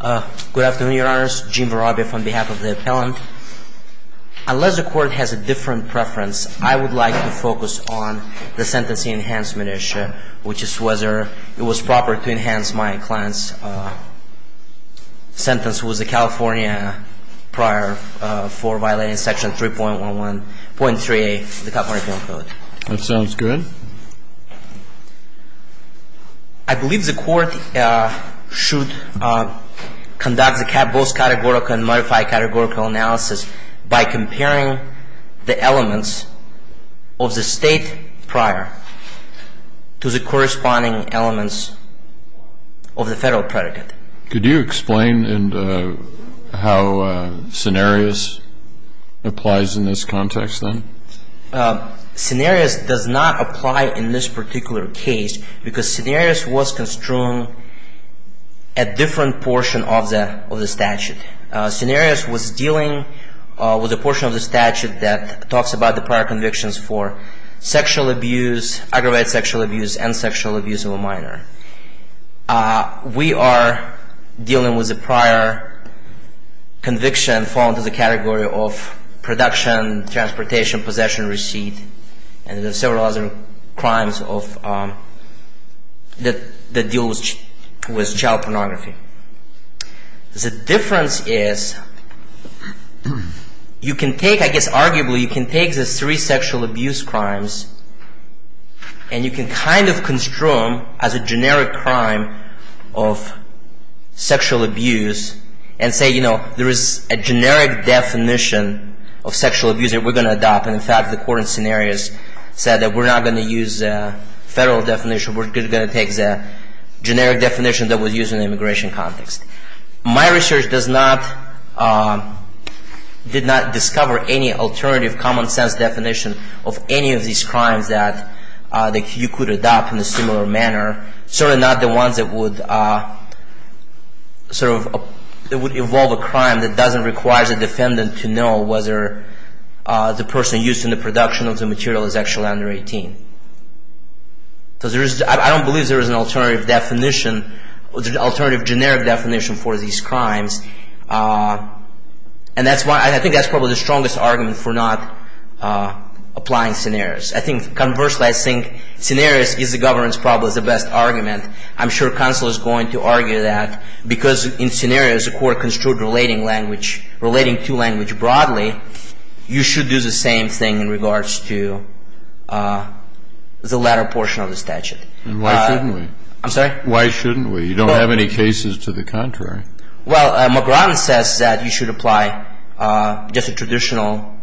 Good afternoon, Your Honors. Gene Varavia from behalf of the appellant. Unless the court has a different preference, I would like to focus on the sentencing enhancement issue, which is whether it was proper to enhance my client's sentence with the California prior for violating Section 3.3a of the California Penal Code. That sounds good. I believe the court should conduct both categorical and modified categorical analysis by comparing the elements of the state prior to the corresponding elements of the federal predicate. Could you explain how scenarios applies in this context then? Scenarios does not apply in this particular case because scenarios was construed a different portion of the statute. Scenarios was dealing with a portion of the statute that talks about the prior convictions for sexual abuse, aggravated sexual abuse, and sexual abuse of a minor. We are dealing with the prior conviction fall into the category of production, transportation, possession, receipt, and there are several other crimes that deal with child pornography. The difference is you can take, I guess arguably, you can take the three sexual abuse crimes and you can kind of construe them as a generic crime of sexual abuse and say, you know, there is a generic definition of sexual abuse that we are going to adopt. In fact, the court in scenarios said that we are not going to use a federal definition. We are going to take the generic definition that was used in the immigration context. My research did not discover any alternative common sense definition of any of these crimes that you could adopt in a similar manner. Certainly not the ones that would evolve a crime that doesn't require the defendant to know whether the person used in the production of the material is actually under 18. I don't believe there is an alternative generic definition for these crimes. I think that is probably the strongest argument for not applying scenarios. I think, conversely, I think scenarios is the governance problem is the best argument. I'm sure counsel is going to argue that because in scenarios the court construed relating language, relating to language broadly, you should do the same thing in regards to the latter portion of the statute. And why shouldn't we? I'm sorry? Why shouldn't we? You don't have any cases to the contrary. Well, McGrath says that you should apply just a traditional,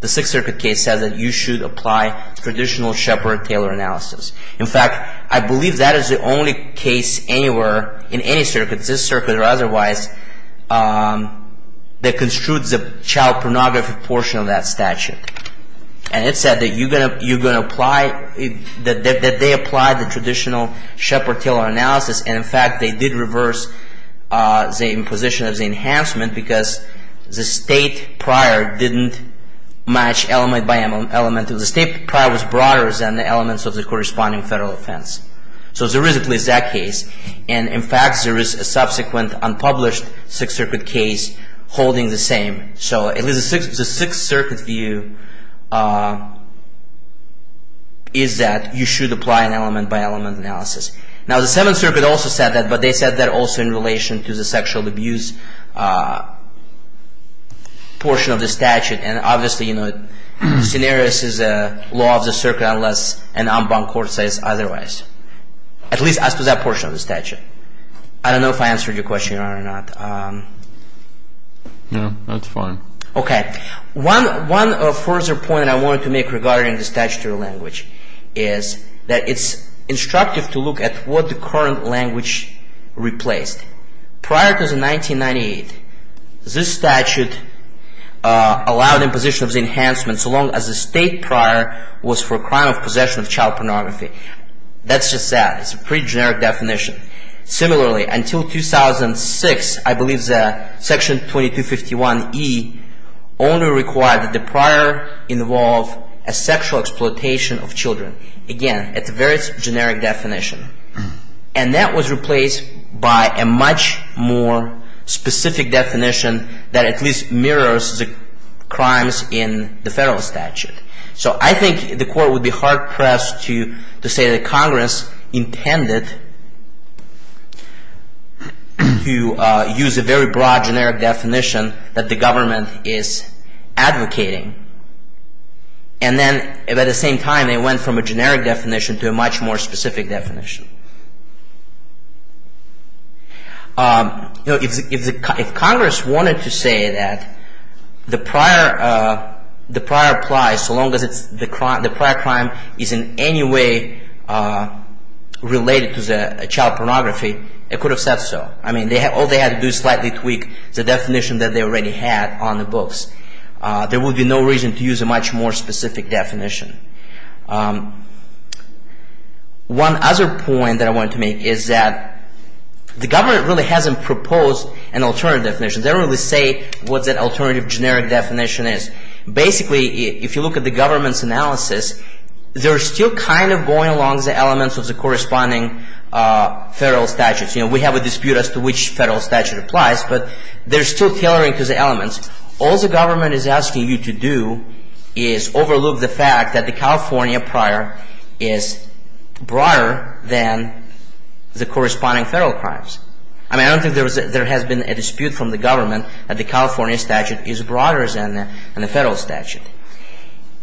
the Sixth Circuit case says that you should apply traditional Shepard-Taylor analysis. In fact, I believe that is the only case anywhere in any circuit, this circuit or otherwise, that construed the child pornography portion of that statute. And it said that you're going to apply, that they applied the traditional Shepard-Taylor analysis. And, in fact, they did reverse the imposition of the enhancement because the state prior didn't match element by element. The state prior was broader than the elements of the corresponding federal offense. So there is at least that case. And, in fact, there is a subsequent unpublished Sixth Circuit case holding the same. So the Sixth Circuit view is that you should apply an element by element analysis. Now, the Seventh Circuit also said that, but they said that also in relation to the sexual abuse portion of the statute. And, obviously, scenarios is a law of the circuit unless an unbound court says otherwise, at least as to that portion of the statute. I don't know if I answered your question or not. No, that's fine. Okay. One further point I wanted to make regarding the statutory language is that it's instructive to look at what the current language replaced. Prior to 1998, this statute allowed imposition of the enhancement so long as the state prior was for a crime of possession of child pornography. That's just that. It's a pretty generic definition. Similarly, until 2006, I believe that Section 2251E only required that the prior involve a sexual exploitation of children. Again, it's a very generic definition. And that was replaced by a much more specific definition that at least mirrors the crimes in the federal statute. So, I think the court would be hard-pressed to say that Congress intended to use a very broad generic definition that the government is advocating. And then, at the same time, they went from a generic definition to a much more specific definition. If Congress wanted to say that the prior applies so long as the prior crime is in any way related to the child pornography, it could have said so. I mean, all they had to do was slightly tweak the definition that they already had on the books. There would be no reason to use a much more specific definition. One other point that I wanted to make is that the government really hasn't proposed an alternative definition. They don't really say what that alternative generic definition is. Basically, if you look at the government's analysis, they're still kind of going along the elements of the corresponding federal statutes. You know, we have a dispute as to which federal statute applies, but they're still tailoring to the elements. All the government is asking you to do is overlook the fact that the California prior is broader than the corresponding federal crimes. I mean, I don't think there has been a dispute from the government that the California statute is broader than the federal statute.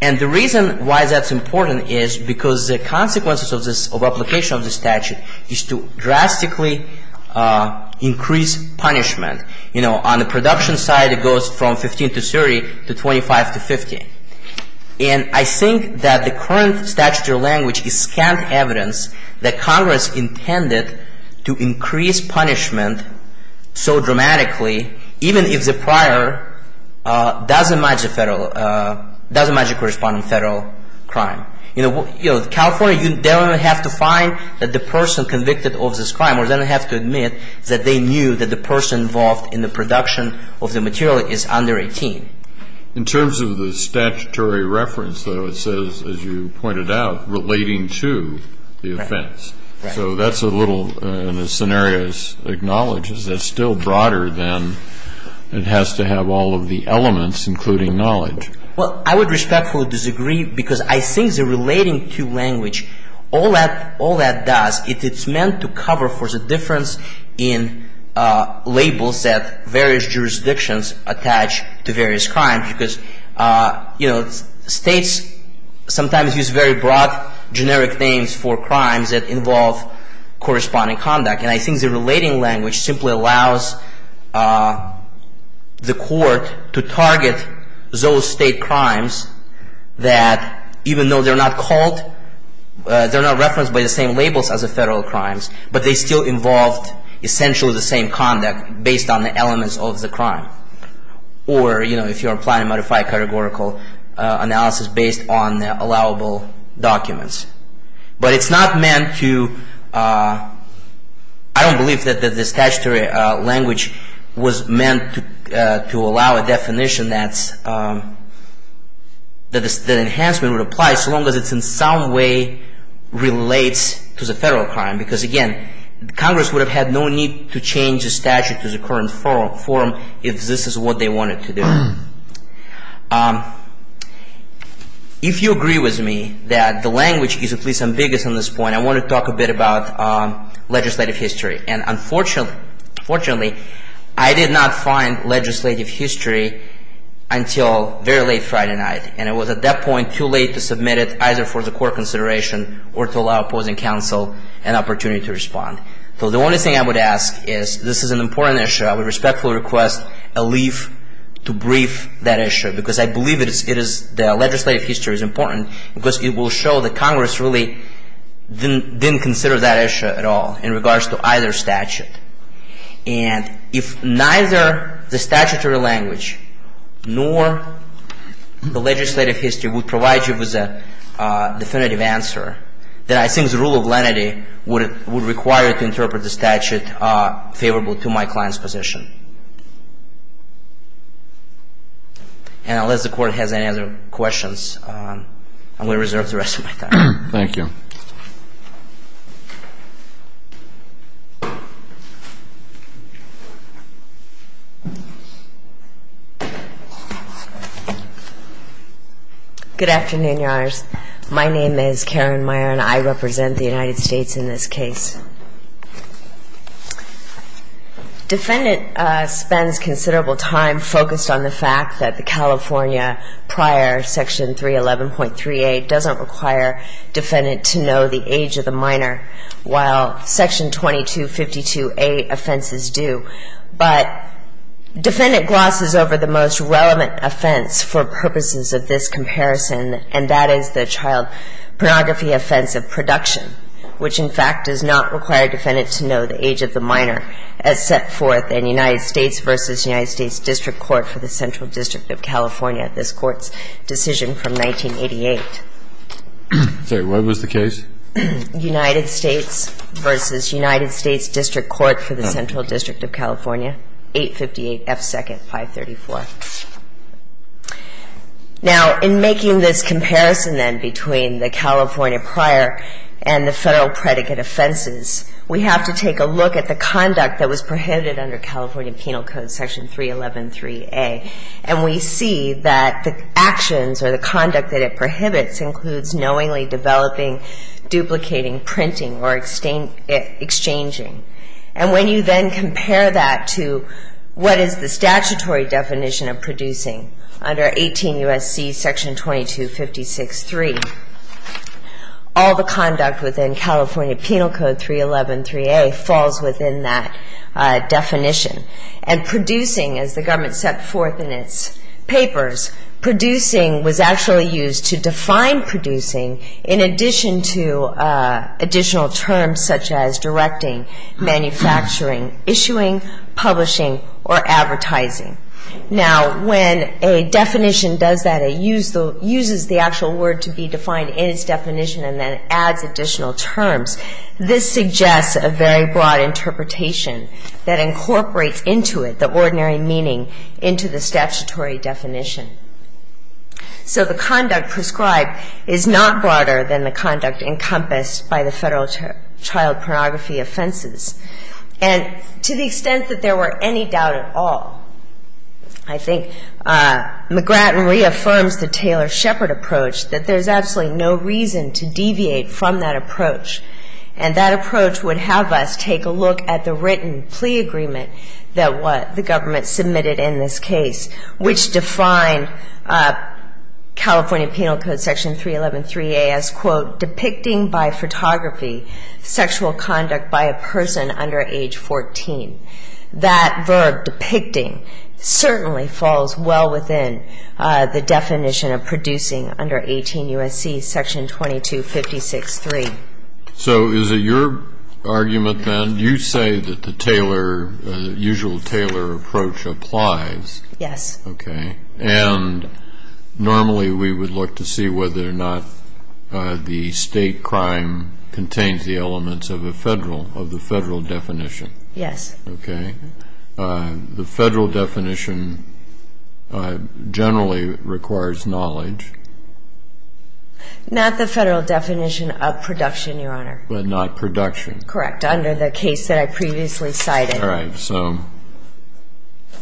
And the reason why that's important is because the consequences of application of the statute is to drastically increase punishment. You know, on the production side, it goes from 15 to 30 to 25 to 50. And I think that the current statutory language is scant evidence that Congress intended to increase punishment so dramatically, even if the prior doesn't match the corresponding federal crime. You know, California, you don't have to find that the person convicted of this crime, or they don't have to admit that they knew that the person involved in the production of the material is under 18. In terms of the statutory reference, though, it says, as you pointed out, relating to the offense. Right. So that's a little, and the scenario acknowledges that it's still broader than it has to have all of the elements, including knowledge. Well, I would respectfully disagree, because I think the relating to language, all that does, it's meant to cover for the difference in labels that various jurisdictions attach to various crimes. Because, you know, states sometimes use very broad generic names for crimes that involve corresponding conduct. And I think the relating language simply allows the court to target those state crimes that, even though they're not called, they're not referenced by the same labels as the federal crimes, but they still involved essentially the same conduct based on the elements of the crime. Or, you know, if you're applying a modified categorical analysis based on allowable documents. But it's not meant to, I don't believe that the statutory language was meant to allow a definition that's, that enhancement would apply so long as it's in some way relates to the federal crime. Because, again, Congress would have had no need to change the statute to the current form if this is what they wanted to do. If you agree with me that the language is at least ambiguous on this point, I want to talk a bit about legislative history. And unfortunately, I did not find legislative history until very late Friday night. And it was at that point too late to submit it either for the court consideration or to allow opposing counsel an opportunity to respond. So the only thing I would ask is, this is an important issue. I would respectfully request a leave to brief that issue. Because I believe it is, the legislative history is important. Because it will show that Congress really didn't consider that issue at all in regards to either statute. And if neither the statutory language nor the legislative history would provide you with a definitive answer, then I think the rule of lenity would require to interpret the statute favorable to my client's position. And unless the court has any other questions, I'm going to reserve the rest of my time. Thank you. Good afternoon, Your Honors. My name is Karen Meyer, and I represent the United States in this case. Defendant spends considerable time focused on the fact that the California prior section 311.38 doesn't require defendant to know the age of the minor, while section 2252A offenses do. But defendant glosses over the most relevant offense for purposes of this comparison, and that is the child pornography offense of production, which, in fact, does not require defendant to know the age of the minor as set forth in United States v. United States District Court for the Central District of California, this Court's decision from 1988. I'm sorry. What was the case? United States v. United States District Court for the Central District of California, 858 F. Second, 534. Now, in making this comparison, then, between the California prior and the Federal predicate offenses, we have to take a look at the conduct that was prohibited under California Penal Code Section 311.3a, and we see that the actions or the conduct that it prohibits includes knowingly developing, duplicating, printing, or exchanging. And when you then compare that to what is the statutory definition of producing under 18 U.S.C. Section 2256.3, all the conduct within California Penal Code 311.3a falls within that definition. And producing, as the government set forth in its papers, was actually used to define producing in addition to additional terms such as directing, manufacturing, issuing, publishing, or advertising. Now, when a definition does that, it uses the actual word to be defined in its definition and then adds additional terms. This suggests a very broad interpretation that incorporates into it the ordinary meaning into the statutory definition. So the conduct prescribed is not broader than the conduct encompassed by the Federal child pornography offenses. And to the extent that there were any doubt at all, I think McGratton reaffirms the Taylor-Shepard approach, that there's absolutely no reason to deviate from that approach. And that approach would have us take a look at the written plea agreement that the government submitted in this case, which defined California Penal Code Section 311.3a as, quote, depicting by photography sexual conduct by a person under age 14. That verb, depicting, certainly falls well within the definition of producing under 18 U.S.C. Section 2256.3. So is it your argument, then, you say that the Taylor, usual Taylor approach applies. Yes. Okay. And normally we would look to see whether or not the state crime contains the elements of the Federal definition. Yes. Okay. The Federal definition generally requires knowledge. Not the Federal definition of production, Your Honor. But not production. Correct. Under the case that I previously cited. All right. So.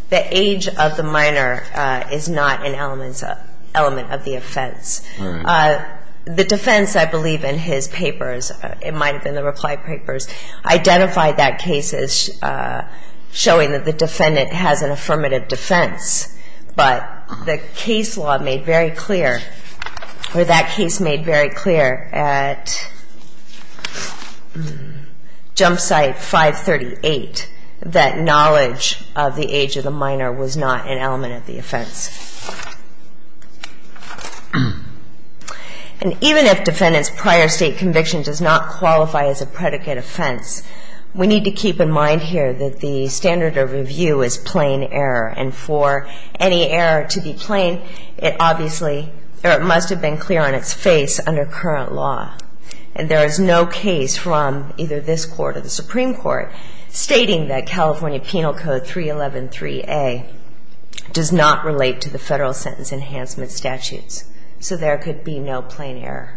The age of the minor is not an element of the offense. All right. The defense, I believe, in his papers, it might have been the reply papers, identified that case as showing that the defendant has an affirmative defense. But the case law made very clear, or that case made very clear at jump site 538, that knowledge of the age of the minor was not an element of the offense. And even if defendant's prior state conviction does not qualify as a predicate offense, we need to keep in mind here that the standard of review is plain error. And for any error to be plain, it obviously, or it must have been clear on its face under current law. And there is no case from either this Court or the Supreme Court stating that California Penal Code 3113A does not relate to the Federal sentence enhancement statutes. So there could be no plain error.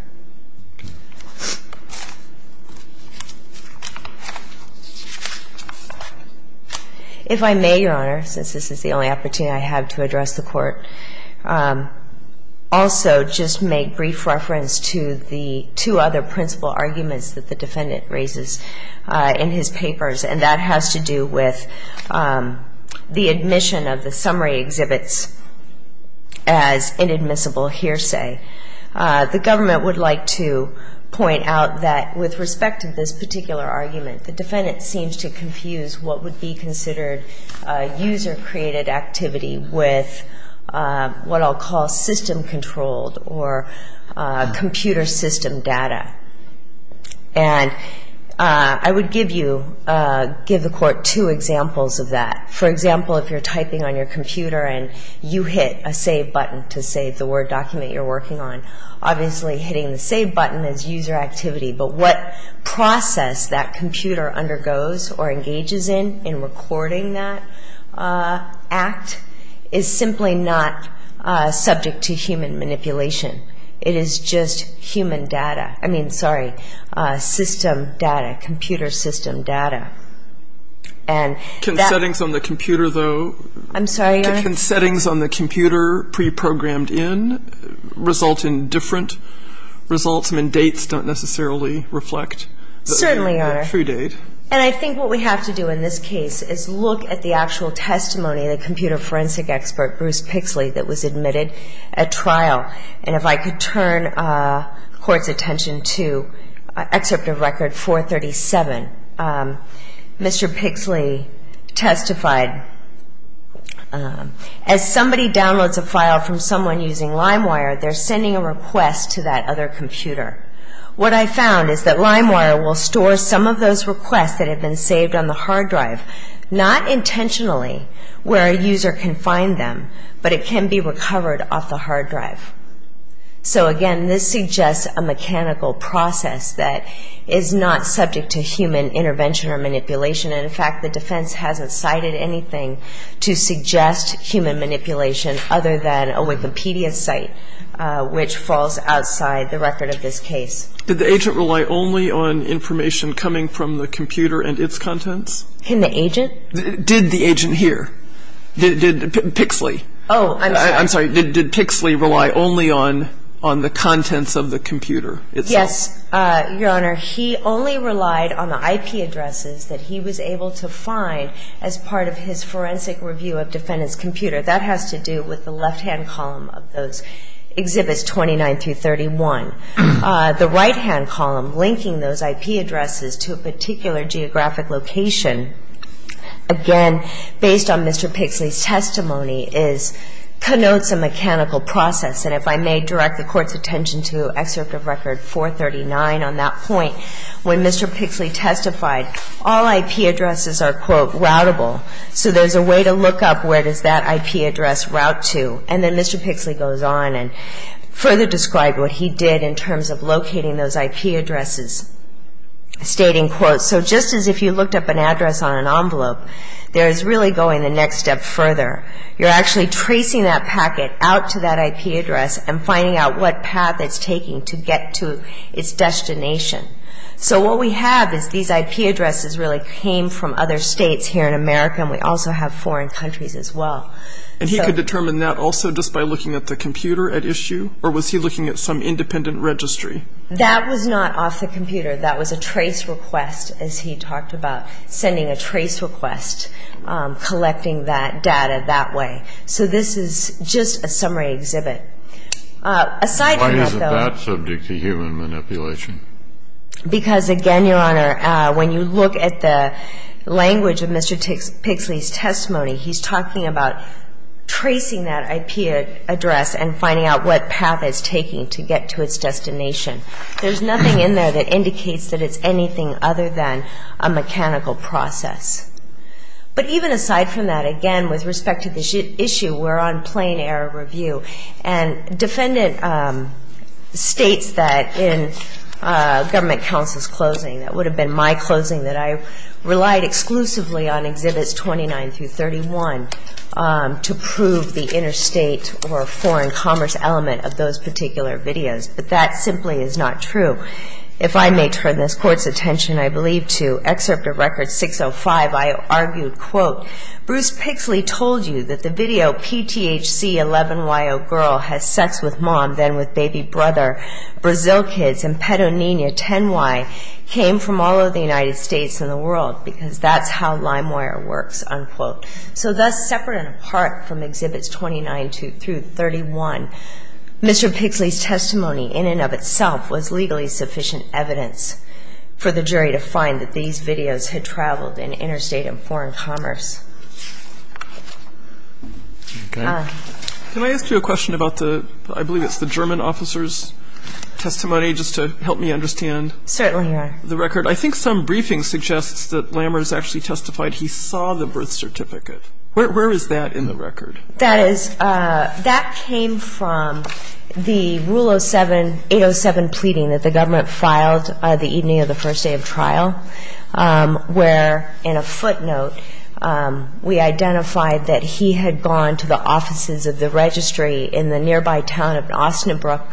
If I may, Your Honor, since this is the only opportunity I have to address the Court, also just make brief reference to the two other principal arguments that the defendant raises in his papers. And that has to do with the admission of the summary exhibits as inadmissible here. The government would like to point out that with respect to this particular argument, the defendant seems to confuse what would be considered user-created activity with what I'll call system-controlled or computer system data. And I would give you, give the Court two examples of that. For example, if you're typing on your computer and you hit a save button to save the Word document you're working on, obviously hitting the save button is user activity. But what process that computer undergoes or engages in in recording that act is simply not subject to human manipulation. It is just human data. I mean, sorry, system data, computer system data. And that — Can settings on the computer, though — I'm sorry, Your Honor. Can settings on the computer preprogrammed in result in different results when dates don't necessarily reflect the true date? Certainly, Your Honor. And I think what we have to do in this case is look at the actual testimony of the computer forensic expert, Bruce Pixley, that was admitted at trial. And if I could turn the Court's attention to Excerpt of Record 437, Mr. Pixley testified, as somebody downloads a file from someone using LimeWire, they're sending a request to that other computer. What I found is that LimeWire will store some of those requests that have been saved on the hard drive, not intentionally where a user can find them, but it can be recovered off the hard drive. So, again, this suggests a mechanical process that is not subject to human intervention or manipulation. And, in fact, the defense hasn't cited anything to suggest human manipulation other than a Wikipedia site, which falls outside the record of this case. Did the agent rely only on information coming from the computer and its contents? In the agent? Did the agent here, Pixley? Oh, I'm sorry. I'm sorry, did Pixley rely only on the contents of the computer itself? Yes, Your Honor. He only relied on the IP addresses that he was able to find as part of his forensic review of defendant's computer. That has to do with the left-hand column of those Exhibits 29 through 31. The right-hand column linking those IP addresses to a particular geographic location, again, based on Mr. Pixley's testimony, connotes a mechanical process. And if I may direct the Court's attention to Excerpt of Record 439 on that point, when Mr. Pixley testified, all IP addresses are, quote, routable. So there's a way to look up where does that IP address route to. And then Mr. Pixley goes on and further described what he did in terms of locating those IP addresses, stating, quote, so just as if you looked up an address on an envelope, there is really going the next step further. You're actually tracing that packet out to that IP address and finding out what path it's taking to get to its destination. So what we have is these IP addresses really came from other states here in America, and we also have foreign countries as well. And he could determine that also just by looking at the computer at issue, or was he looking at some independent registry? That was not off the computer. That was a trace request, as he talked about, sending a trace request, collecting that data that way. So this is just a summary exhibit. Aside from that, though — Why is that subject to human manipulation? Because, again, Your Honor, when you look at the language of Mr. Pixley's testimony, he's talking about tracing that IP address and finding out what path it's taking to get to its destination. There's nothing in there that indicates that it's anything other than a mechanical process. But even aside from that, again, with respect to this issue, we're on plain error review. And defendant states that in government counsel's closing — that would have been my closing, that I relied exclusively on Exhibits 29 through 31 to prove the interstate or foreign commerce element of those particular videos. But that simply is not true. If I may turn this Court's attention, I believe, to Excerpt of Record 605, I argued, quote, "'Bruce Pixley told you that the video PTHC 11YO girl has sex with mom, then with baby brother, Brazil kids, and Petonina 10Y came from all over the United States and the world, because that's how LimeWire works,' unquote. So thus, separate and apart from Exhibits 29 through 31, Mr. Pixley's testimony in and of itself was legally sufficient evidence for the jury to find that these videos had traveled in interstate and foreign commerce." Okay. Can I ask you a question about the — I believe it's the German officer's testimony, just to help me understand the record? Certainly. I think some briefing suggests that Lammers actually testified he saw the birth certificate. Where is that in the record? That is — that came from the Rule 807 pleading that the government filed the evening of the first day of trial, where, in a footnote, we identified that he had gone to the offices of the registry in the nearby town of Osnabrück,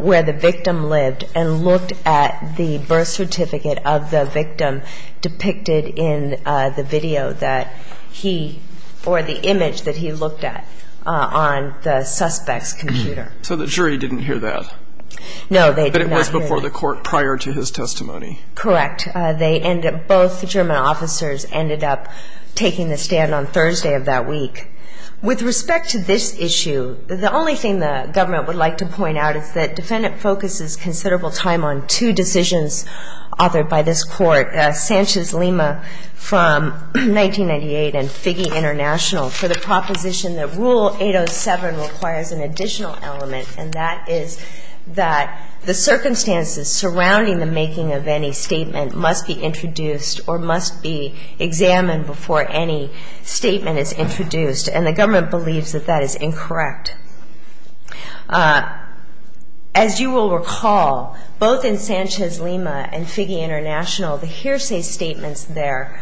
where the victim lived, and looked at the birth certificate of the victim depicted in the video that he — or the image that he looked at on the suspect's computer. So the jury didn't hear that. No, they did not hear that. But it was before the court prior to his testimony. Correct. They ended — both German officers ended up taking the stand on Thursday of that week. With respect to this issue, the only thing the government would like to point out is that defendant focuses considerable time on two decisions authored by this court, Sanchez-Lima from 1998 and Figge International, for the proposition that Rule 807 requires an additional element, and that is that the circumstances surrounding the making of any statement must be introduced or must be examined before any statement is introduced. And the government believes that that is incorrect. As you will recall, both in Sanchez-Lima and Figge International, the hearsay statements there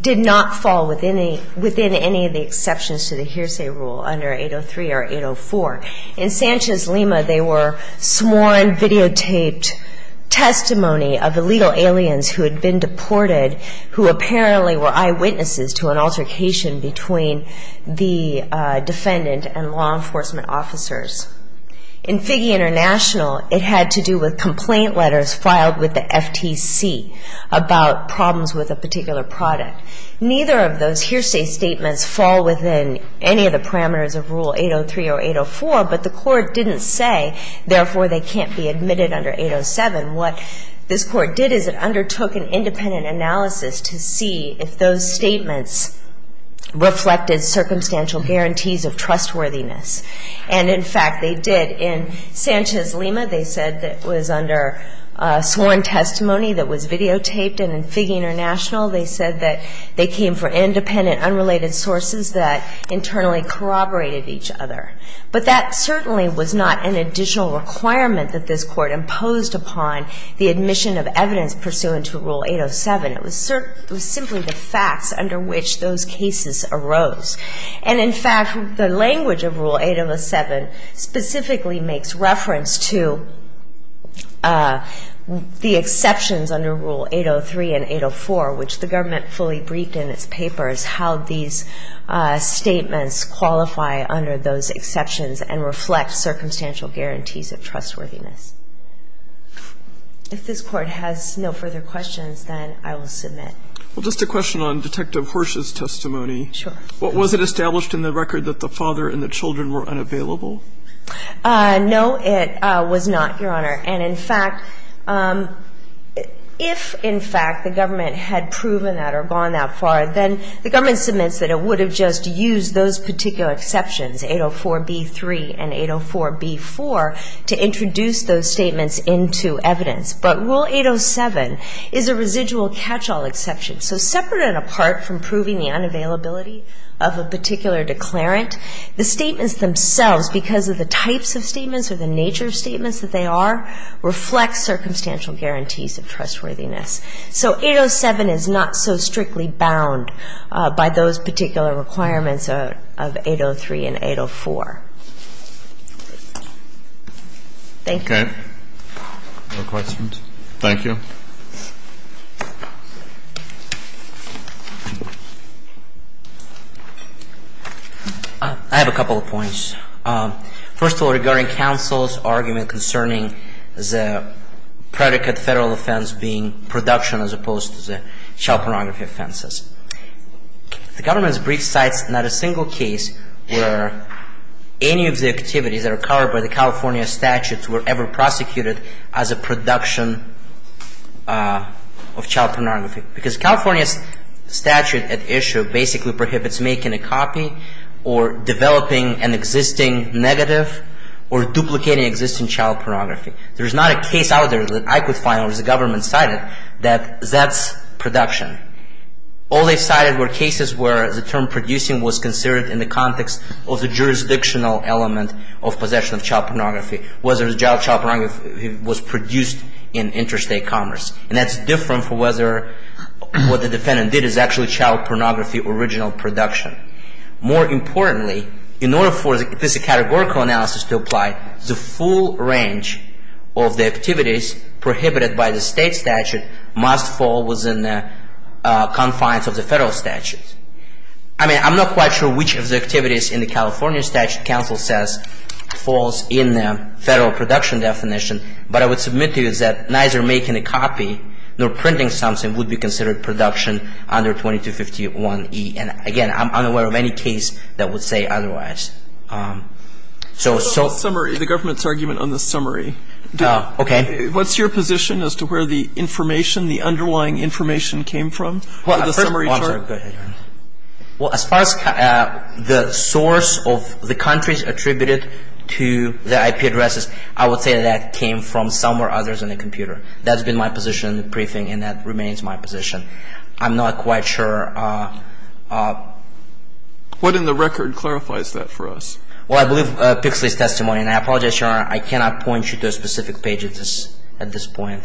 did not fall within any of the exceptions to the hearsay rule under 803 or 804. In Sanchez-Lima, they were sworn videotaped testimony of illegal aliens who had been deported, who apparently were eyewitnesses to an altercation between the defendant and law enforcement officers. In Figge International, it had to do with complaint letters filed with the FTC about problems with a particular product. Neither of those hearsay statements fall within any of the parameters of Rule 803 or 804, but the court didn't say, therefore, they can't be admitted under 807. What this Court did is it undertook an independent analysis to see if those statements reflected circumstantial guarantees of trustworthiness. And, in fact, they did. In Sanchez-Lima, they said that it was under sworn testimony that was videotaped. And in Figge International, they said that they came for independent, unrelated sources that internally corroborated each other. But that certainly was not an additional requirement that this Court imposed upon the admission of evidence pursuant to Rule 807. It was simply the facts under which those cases arose. And, in fact, the language of Rule 807 specifically makes reference to the exceptions under Rule 803 and 804, which the government fully briefed in its papers how these statements qualify under those exceptions and reflect circumstantial guarantees of trustworthiness. If this Court has no further questions, then I will submit. Well, just a question on Detective Hirsch's testimony. Sure. Was it established in the record that the father and the children were unavailable? No, it was not, Your Honor. And, in fact, if, in fact, the government had proven that or gone that far, then the government submits that it would have just used those particular exceptions, 804b3 and 804b4, to introduce those statements into evidence. But Rule 807 is a residual catch-all exception. So separate and apart from proving the unavailability of a particular declarant, the statements themselves, because of the types of statements or the nature of statements that they are, reflect circumstantial guarantees of trustworthiness. So 807 is not so strictly bound by those particular requirements of 803 and 804. Thank you. Okay. No questions? Thank you. I have a couple of points. First of all, regarding counsel's argument concerning the predicate federal offense being production as opposed to the child pornography offenses. The government's brief cites not a single case where any of the activities that are covered by the California statutes were ever prosecuted as a production of child pornography. Because California's statute at issue basically prohibits making a copy or developing an existing negative or duplicating existing child pornography. There is not a case out there that I could find where the government cited that that's production. All they cited were cases where the term producing was considered in the context of the jurisdictional element of possession of child pornography. Whether the child pornography was produced in interstate commerce. And that's different for whether what the defendant did is actually child pornography original production. More importantly, in order for this categorical analysis to apply, the full range of the activities prohibited by the state statute must fall within the confines of the federal statute. I mean, I'm not quite sure which of the activities in the California statute counsel says falls in the federal production definition. But I would submit to you that neither making a copy nor printing something would be considered production under 2251E. And again, I'm unaware of any case that would say otherwise. So summary, the government's argument on the summary. Okay. What's your position as to where the information, the underlying information came from? Well, I'm sorry. Go ahead. Well, as far as the source of the countries attributed to the IP addresses, I would say that came from somewhere other than a computer. That's been my position in the briefing, and that remains my position. I'm not quite sure. What in the record clarifies that for us? Well, I believe Pixley's testimony. And I apologize, Your Honor, I cannot point you to a specific page at this point.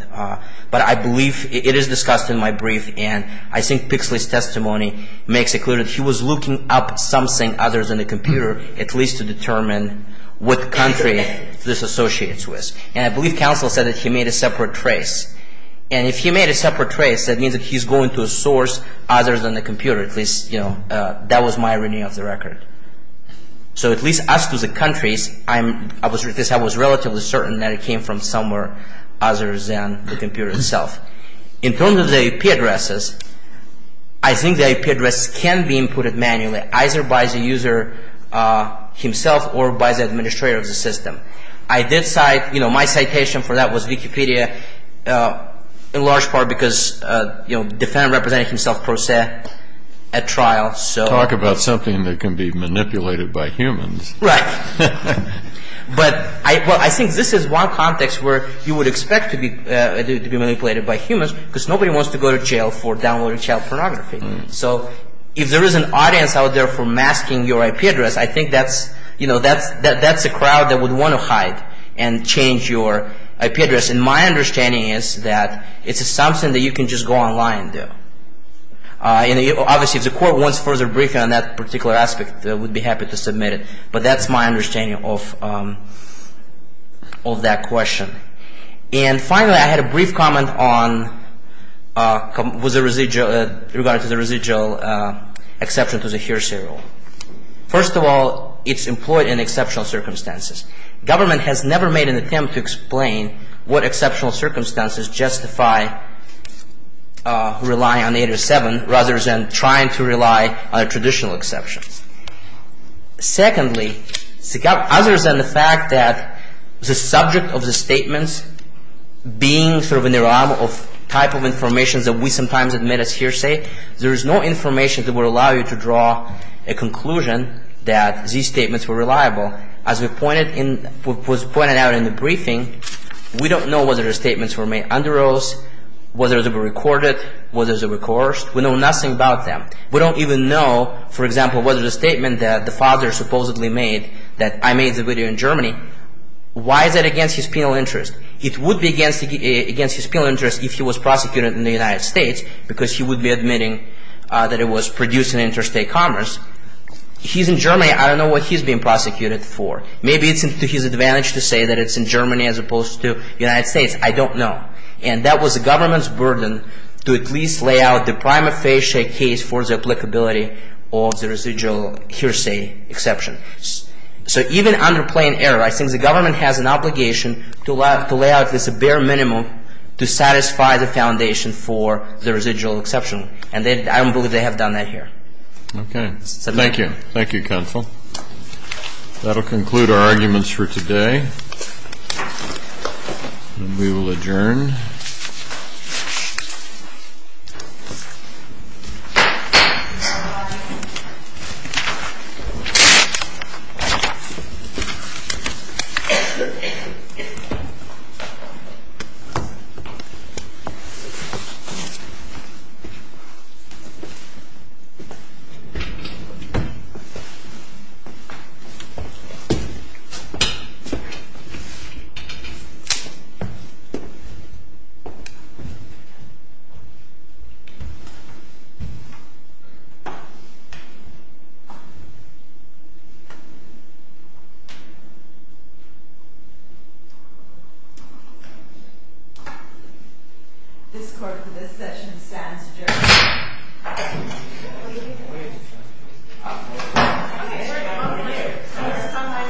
But I believe it is discussed in my brief, and I think Pixley's testimony makes it clear that he was looking up something other than a computer, at least to determine what country this associates with. And I believe counsel said that he made a separate trace. And if he made a separate trace, that means that he's going to a source other than a computer. At least, you know, that was my reading of the record. So at least as to the countries, I was relatively certain that it came from somewhere other than the computer itself. In terms of the IP addresses, I think the IP addresses can be inputted manually, either by the user himself or by the administrator of the system. I did cite, you know, my citation for that was Wikipedia in large part because, you know, the defendant represented himself per se at trial. Talk about something that can be manipulated by humans. Right. But I think this is one context where you would expect to be manipulated by humans because nobody wants to go to jail for downloading child pornography. So if there is an audience out there for masking your IP address, I think that's, you know, that's a crowd that would want to hide and change your IP address. And my understanding is that it's something that you can just go online and do. And obviously, if the court wants further briefing on that particular aspect, I would be happy to submit it. But that's my understanding of that question. And finally, I had a brief comment on the residual exception to the hearsay rule. First of all, it's employed in exceptional circumstances. Government has never made an attempt to explain what exceptional circumstances justify relying on eight or seven rather than trying to rely on a traditional exception. Secondly, other than the fact that the subject of the statements being sort of a type of information that we sometimes admit as hearsay, there is no information that would allow you to draw a conclusion that these statements were reliable. As was pointed out in the briefing, we don't know whether the statements were made under oath, whether they were recorded, whether they were coerced. We know nothing about them. We don't even know, for example, whether the statement that the father supposedly made, that I made the video in Germany, why is that against his penal interest? It would be against his penal interest if he was prosecuted in the United States because he would be admitting that it was produced in interstate commerce. He's in Germany. I don't know what he's being prosecuted for. Maybe it's to his advantage to say that it's in Germany as opposed to the United States. I don't know. And that was the government's burden to at least lay out the prima facie case for the applicability of the residual hearsay exception. So even under plain error, I think the government has an obligation to lay out this bare minimum to satisfy the foundation for the residual exception. And I don't believe they have done that here. Okay. Thank you. Thank you, counsel. That will conclude our arguments for today. And we will adjourn. This court for this session stands adjourned. Thank you.